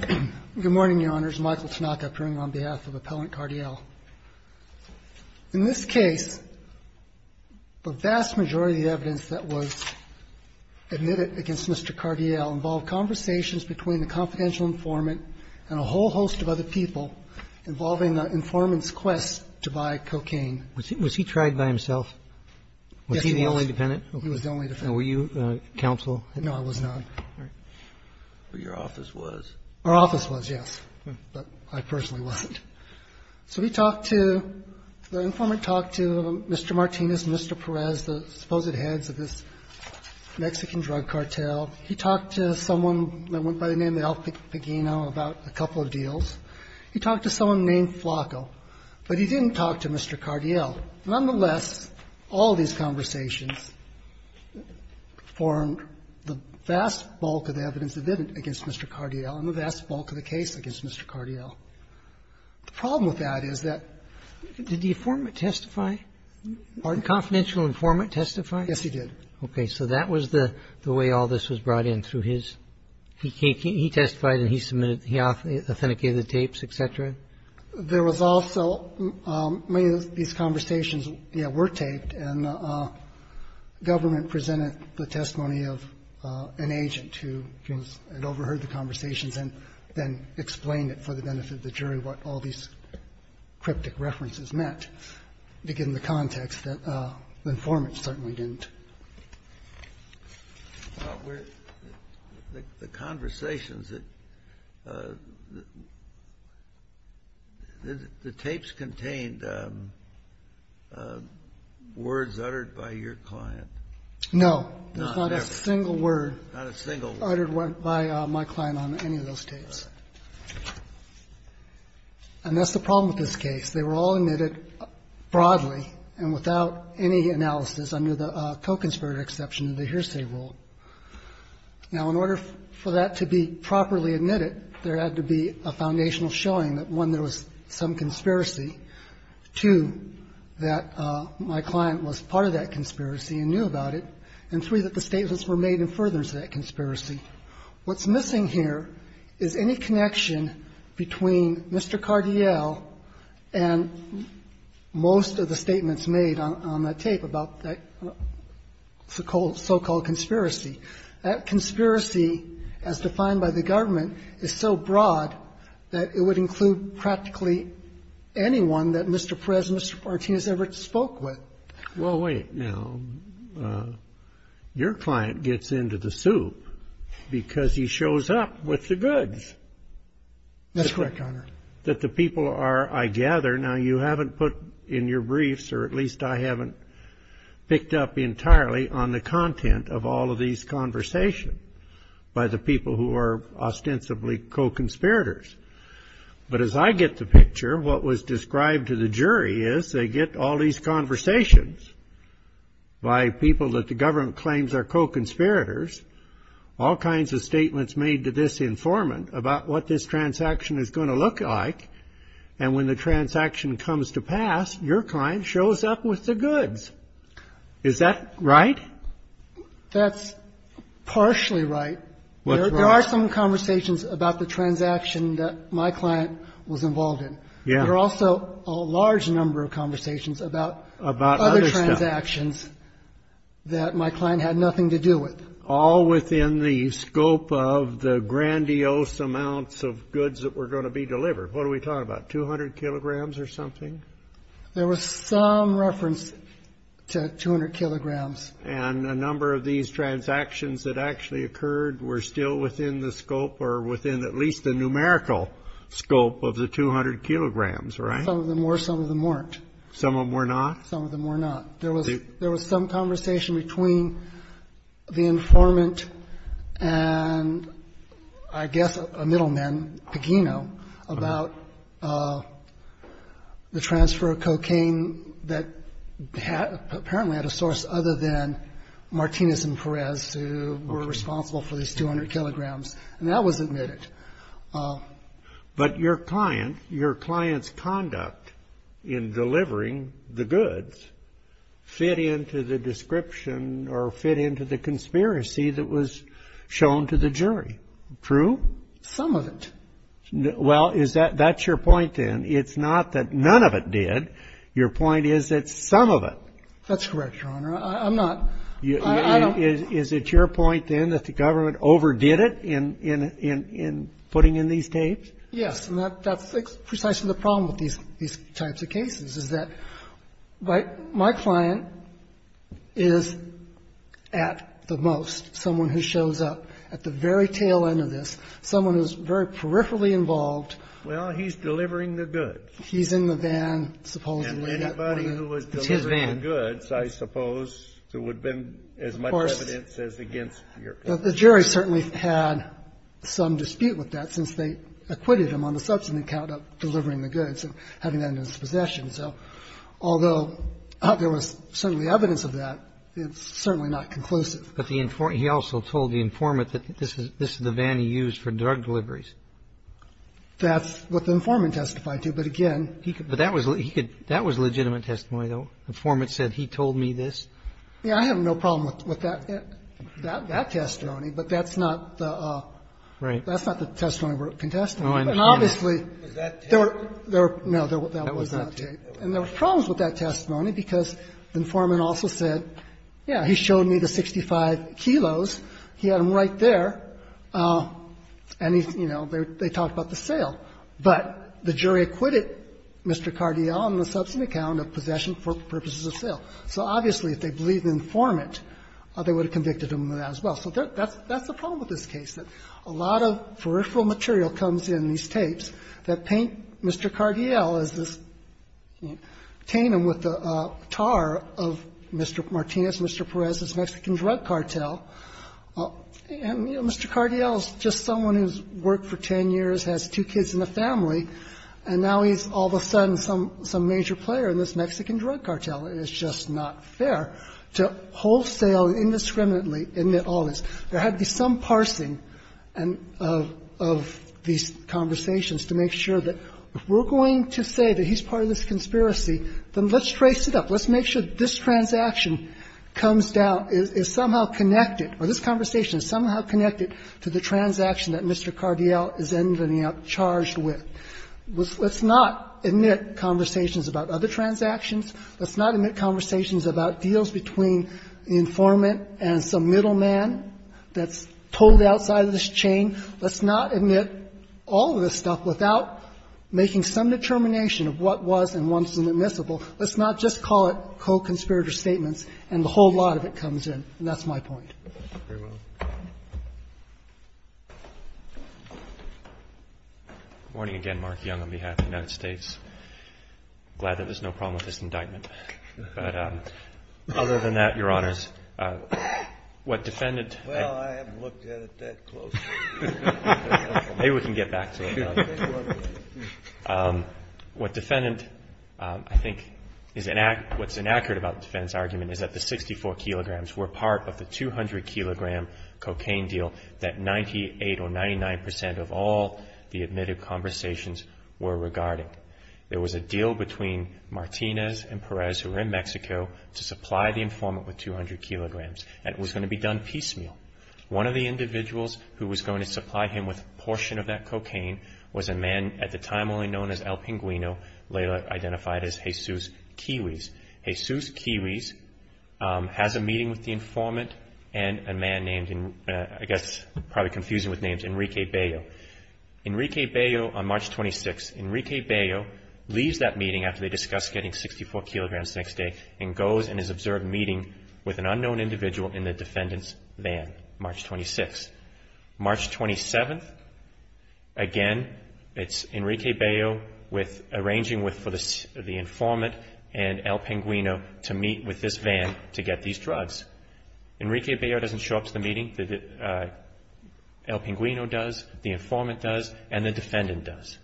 Good morning, Your Honors. Michael Tanaka, appearing on behalf of Appellant Cardiel. In this case, the vast majority of the evidence that was admitted against Mr. Cardiel involved conversations between the confidential informant and a whole host of other people involving the informant's quest to buy cocaine. Was he tried by himself? Yes, he was. Was he the only defendant? He was the only defendant. And were you counsel? No, I was not. But your office was? Our office was, yes. But I personally wasn't. So we talked to the informant talked to Mr. Martinez and Mr. Perez, the supposed heads of this Mexican drug cartel. He talked to someone that went by the name Alf Pagino about a couple of deals. He talked to someone named Flacco. But he didn't talk to Mr. Cardiel. Nonetheless, all these conversations formed the vast bulk of the evidence admitted against Mr. Cardiel and the vast bulk of the case against Mr. Cardiel. The problem with that is that did the informant testify? Pardon? Did the confidential informant testify? Yes, he did. Okay. So that was the way all this was brought in through his he testified and he submitted he authenticated the tapes, et cetera? There was also many of these conversations were taped, and the government presented the testimony of an agent who had overheard the conversations and then explained it for the benefit of the jury what all these cryptic references meant, to give them the context that the informant certainly didn't. The conversations that the tapes contained words uttered by your client? No. Not ever. Not a single word. Not a single word. Uttered by my client on any of those tapes. Right. And that's the problem with this case. In this case, they were all admitted broadly and without any analysis under the co-conspirator exception of the hearsay rule. Now, in order for that to be properly admitted, there had to be a foundational showing that, one, there was some conspiracy, two, that my client was part of that conspiracy and knew about it, and three, that the statements were made in furtherance of that conspiracy. What's missing here is any connection between Mr. Cardiel and most of the statements made on that tape about that so-called conspiracy. That conspiracy, as defined by the government, is so broad that it would include practically anyone that Mr. Perez and Mr. Martinez ever spoke with. Well, wait. Now, your client gets into the soup because he shows up with the goods. That's correct, Your Honor. That the people are, I gather, now, you haven't put in your briefs, or at least I haven't picked up entirely on the content of all of these conversations by the people who are ostensibly co-conspirators. But as I get the picture, what was described to the jury is they get all these conversations by people that the government claims are co-conspirators, all kinds of statements made to this informant about what this transaction is going to look like, and when the transaction comes to pass, your client shows up with the goods. That's partially right. What's right? There are some conversations about the transaction that my client was involved in. There are also a large number of conversations about other transactions that my client had nothing to do with. All within the scope of the grandiose amounts of goods that were going to be delivered. What are we talking about, 200 kilograms or something? There was some reference to 200 kilograms. And a number of these transactions that actually occurred were still within the scope or within at least the numerical scope of the 200 kilograms, right? Some of them were, some of them weren't. Some of them were not? Some of them were not. There was some conversation between the informant and, I guess, a middleman, Pagino, about the transfer of cocaine that apparently had a source other than Martinez and Perez, who were responsible for these 200 kilograms. And that was admitted. But your client, your client's conduct in delivering the goods fit into the description or fit into the conspiracy that was shown to the jury, true? Some of it. Well, is that your point, then? It's not that none of it did. Your point is that some of it. That's correct, Your Honor. I'm not. I don't. Is it your point, then, that the government overdid it in putting in these tapes? Yes. And that's precisely the problem with these types of cases, is that my client is, at the most, someone who shows up at the very tail end of this, someone who's very peripherally involved. Well, he's delivering the goods. He's in the van, supposedly. And anybody who was delivering the goods, I suppose, there would have been as much evidence as against your client. The jury certainly had some dispute with that, since they acquitted him on the subsequent count of delivering the goods and having that in his possession. So although there was certainly evidence of that, it's certainly not conclusive. But the informant also told the informant that this is the van he used for drug deliveries. That's what the informant testified to. But again, he could. But that was legitimate testimony, though. The informant said, he told me this. Yeah. I have no problem with that testimony, but that's not the testimony we're contesting. And obviously, there were. Was that tape? No, that was not tape. And there were problems with that testimony because the informant also said, yeah, he showed me the 65 kilos. He had them right there. And, you know, they talked about the sale. But the jury acquitted Mr. Cardiel on the subsequent count of possession for purposes of sale. So obviously, if they believed the informant, they would have convicted him of that as well. So that's the problem with this case, that a lot of peripheral material comes in these tapes that paint Mr. Cardiel as this canine with the tar of Mr. Martinez, Mr. Perez, this Mexican drug cartel. And, you know, Mr. Cardiel is just someone who's worked for 10 years, has two kids in the family, and now he's all of a sudden some major player in this Mexican drug cartel. And it's just not fair to wholesale indiscriminately, isn't it always? There had to be some parsing of these conversations to make sure that if we're going to say that he's part of this conspiracy, then let's trace it up. Let's make sure that this transaction comes down, is somehow connected, or this conversation is somehow connected to the transaction that Mr. Cardiel is in charge with. Let's not omit conversations about other transactions. Let's not omit conversations about deals between the informant and some middleman that's pulled outside of this chain. Let's not omit all of this stuff without making some determination of what was and what wasn't. Let's not just call it co-conspirator statements, and the whole lot of it comes in. And that's my point. Very well. Good morning again, Mark Young, on behalf of the United States. I'm glad that there's no problem with this indictment. But other than that, Your Honors, what defendant ---- Well, I haven't looked at it that closely. Maybe we can get back to it. What defendant ---- I think what's inaccurate about the defendant's argument is that the 64 kilograms were part of the 200-kilogram cocaine deal that 98 or 99 percent of all the admitted conversations were regarding. There was a deal between Martinez and Perez who were in Mexico to supply the informant with 200 kilograms, and it was going to be done piecemeal. One of the individuals who was going to supply him with a portion of that cocaine was a man at the time only known as El Pinguino, later identified as Jesus Kiwis. Jesus Kiwis has a meeting with the informant and a man named, I guess probably confusing with names, Enrique Bayo. Enrique Bayo, on March 26th, Enrique Bayo leaves that meeting after they discuss getting 64 kilograms the next day and goes in his observed meeting with an unknown individual in the defendant's van, March 26th. March 27th, again, it's Enrique Bayo arranging for the informant and El Pinguino to meet with this van to get these drugs. Enrique Bayo doesn't show up to the meeting. El Pinguino does, the informant does, and the defendant does.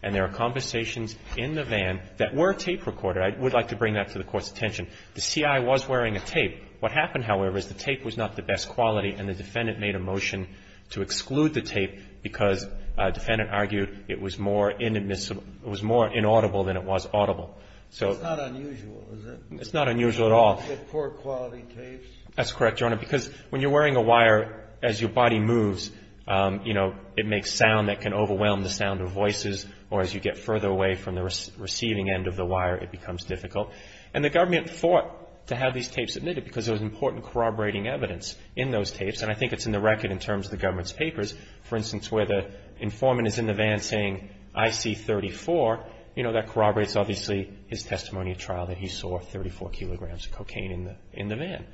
And there are conversations in the van that were tape recorded. I would like to bring that to the Court's attention. The CI was wearing a tape. What happened, however, is the tape was not the best quality, and the defendant made a motion to exclude the tape because a defendant argued it was more inaudible than it was audible. It's not unusual, is it? It's not unusual at all. You get poor quality tapes. That's correct, Your Honor, because when you're wearing a wire, as your body moves, it makes sound that can overwhelm the sound of voices, or as you get further away from the receiving end of the wire, it becomes difficult. And the government fought to have these tapes submitted because there was important corroborating evidence in those tapes, and I think it's in the record in terms of the government's papers, for instance, where the informant is in the van saying, I see 34. You know, that corroborates, obviously, his testimony at trial that he saw 34 kilograms of cocaine in the van.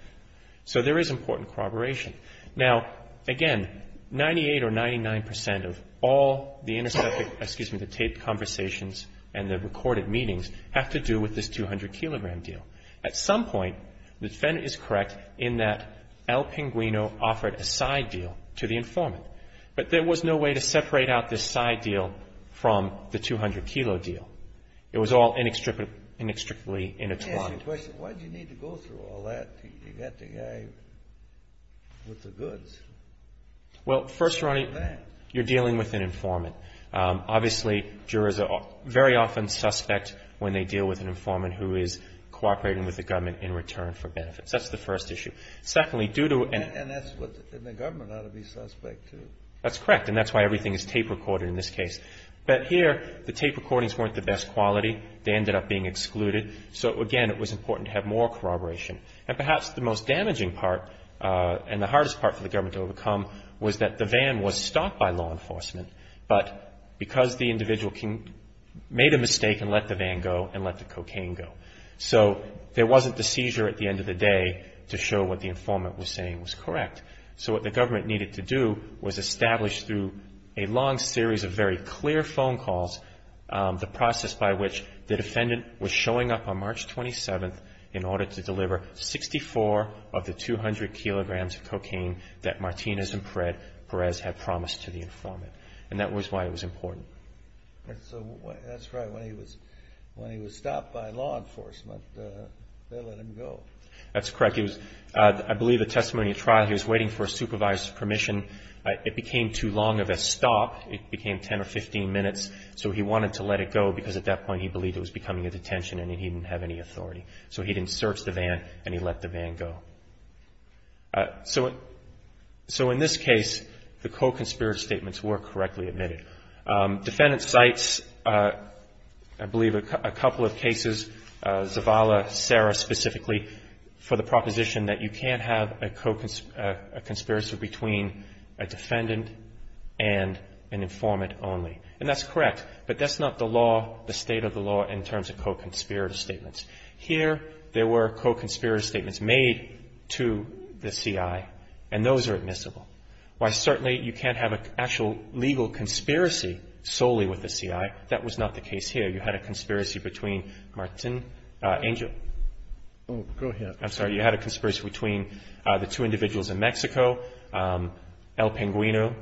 So there is important corroboration. Now, again, 98 or 99 percent of all the introspective, excuse me, the tape conversations and the recorded meetings have to do with this 200-kilogram deal. At some point, the defendant is correct in that El Pinguino offered a side deal to the informant, but there was no way to separate out this side deal from the 200-kilo deal. It was all inextricably intertwined. Let me ask you a question. Why did you need to go through all that to get the guy with the goods? Well, first, Ronnie, you're dealing with an informant. Obviously, jurors are very often suspect when they deal with an informant who is cooperating with the government in return for benefits. That's the first issue. Secondly, due to an ---- And that's what the government ought to be suspect, too. That's correct, and that's why everything is tape recorded in this case. But here, the tape recordings weren't the best quality. They ended up being excluded. So, again, it was important to have more corroboration. And perhaps the most damaging part and the hardest part for the government to overcome was that the van was stopped by law enforcement, but because the individual made a mistake and let the van go and let the cocaine go. So there wasn't the seizure at the end of the day to show what the informant was saying was correct. So what the government needed to do was establish through a long series of very clear phone calls the process by which the defendant was showing up on March 27th in order to deliver 64 of the 200 kilograms of cocaine that Martinez and Perez had promised to the informant. And that was why it was important. So that's right, when he was stopped by law enforcement, they let him go. That's correct. I believe the testimony at trial, he was waiting for a supervisor's permission. It became too long of a stop. It became 10 or 15 minutes. So he wanted to let it go because at that point he believed it was becoming a detention and he didn't have any authority. So he didn't search the van and he let the van go. So in this case, the co-conspirator statements were correctly admitted. Defendant cites, I believe, a couple of cases, Zavala, Serra specifically, for the proposition that you can't have a conspiracy between a defendant and an informant only. And that's correct, but that's not the law, the state of the law in terms of co-conspirator statements. Here there were co-conspirator statements made to the CI, and those are admissible. While certainly you can't have an actual legal conspiracy solely with the CI, that was not the case here. You had a conspiracy between Martin Angel. Oh, go ahead. I'm sorry, you had a conspiracy between the two individuals in Mexico, El Pinguino,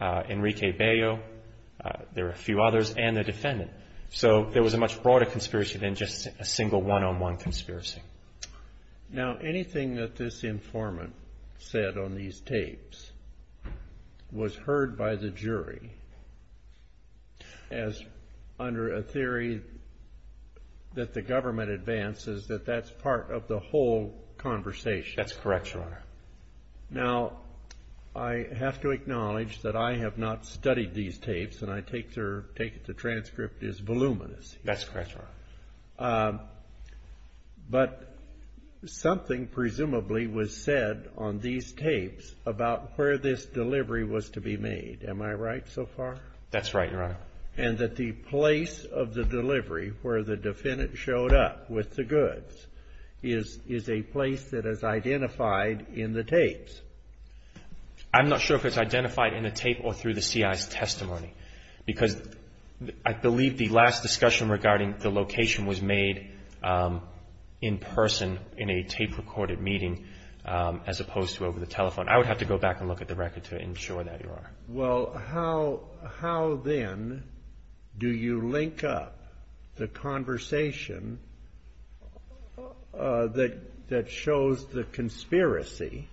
Enrique Bello, there were a few others, and the defendant. So there was a much broader conspiracy than just a single one-on-one conspiracy. Now, anything that this informant said on these tapes was heard by the jury as under a theory that the government advances that that's part of the whole conversation. That's correct, Your Honor. Now, I have to acknowledge that I have not studied these tapes, and I take the transcript as voluminous. That's correct, Your Honor. But something presumably was said on these tapes about where this delivery was to be made. Am I right so far? That's right, Your Honor. And that the place of the delivery where the defendant showed up with the goods is a place that is identified in the tapes. I'm not sure if it's identified in the tape or through the CI's testimony, because I believe the last discussion regarding the location was made in person in a tape-recorded meeting, as opposed to over the telephone. I would have to go back and look at the record to ensure that, Your Honor. Well, how then do you link up the conversation that shows the conspiracy,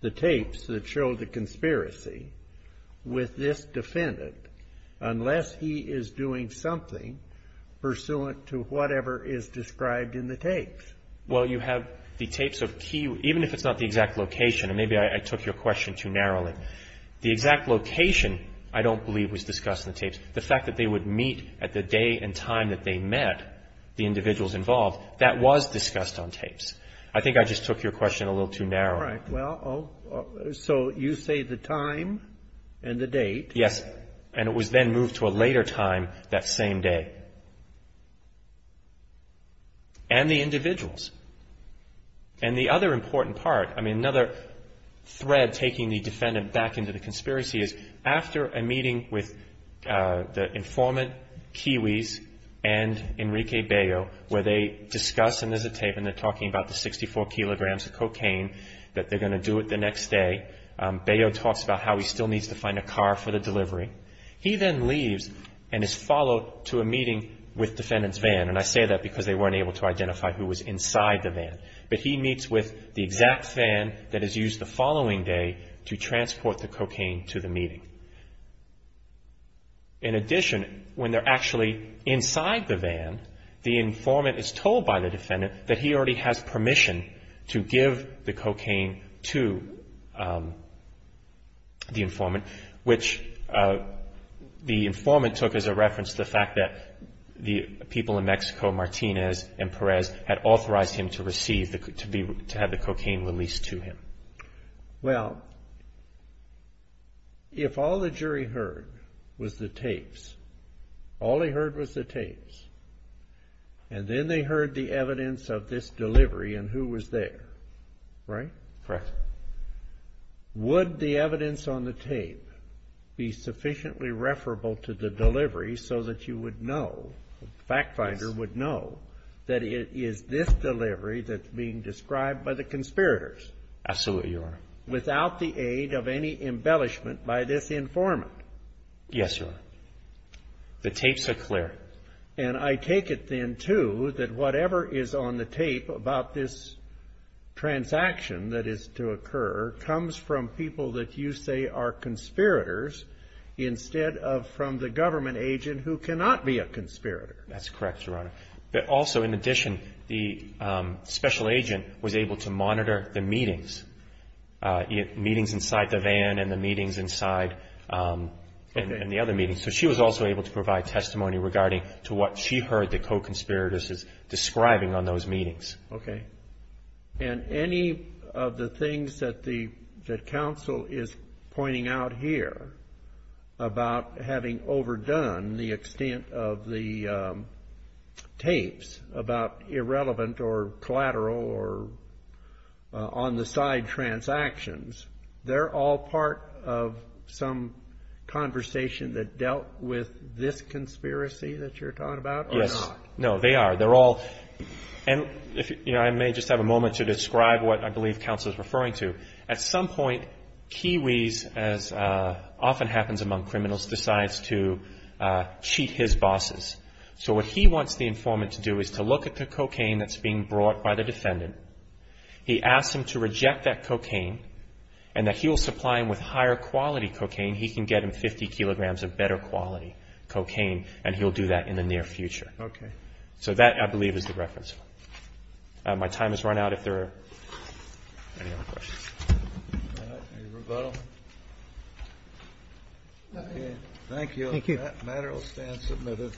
the tapes that show the conspiracy, with this defendant, unless he is doing something pursuant to whatever is described in the tapes? Well, you have the tapes of key, even if it's not the exact location, and maybe I took your question too narrowly. The exact location, I don't believe, was discussed in the tapes. The fact that they would meet at the day and time that they met the individuals involved, that was discussed on tapes. I think I just took your question a little too narrowly. All right. Well, so you say the time and the date. Yes. And it was then moved to a later time that same day. And the individuals. And the other important part, I mean, another thread taking the defendant back into the conspiracy is, after a meeting with the informant, Kiwis, and Enrique Bello, where they discuss, and there's a tape and they're talking about the 64 kilograms of cocaine, that they're going to do it the next day. Bello talks about how he still needs to find a car for the delivery. He then leaves and is followed to a meeting with defendant's van. And I say that because they weren't able to identify who was inside the van. But he meets with the exact van that is used the following day to transport the cocaine to the meeting. In addition, when they're actually inside the van, the informant is told by the defendant that he already has permission to give the cocaine to the informant, which the informant took as a reference to the fact that the people in Mexico, Martinez and Perez, had authorized him to receive, to have the cocaine released to him. Well, if all the jury heard was the tapes, all they heard was the tapes, and then they heard the evidence of this delivery and who was there, right? Correct. Would the evidence on the tape be sufficiently referable to the delivery so that you would know, the fact finder would know, that it is this delivery that's being described by the conspirators? Absolutely, Your Honor. Without the aid of any embellishment by this informant? Yes, Your Honor. The tapes are clear. And I take it then, too, that whatever is on the tape about this transaction that is to occur comes from people that you say are conspirators instead of from the government agent who cannot be a conspirator. That's correct, Your Honor. But also, in addition, the special agent was able to monitor the meetings, meetings inside the van and the meetings inside, and the other meetings. So she was also able to provide testimony regarding to what she heard the co-conspirators describing on those meetings. Okay. And any of the things that the counsel is pointing out here about having overdone the extent of the tapes about irrelevant or conspiracy that you're talking about or not? Yes. No, they are. They're all. And, you know, I may just have a moment to describe what I believe counsel is referring to. At some point, Kiwis, as often happens among criminals, decides to cheat his bosses. So what he wants the informant to do is to look at the cocaine that's being brought by the defendant. He asks him to reject that cocaine and that he will supply him with higher quality cocaine. He can get him 50 kilograms of better quality cocaine, and he'll do that in the near future. Okay. So that, I believe, is the reference. My time has run out. If there are any other questions. All right. Any rebuttal? Okay. Thank you. Thank you. That matter will stand submitted.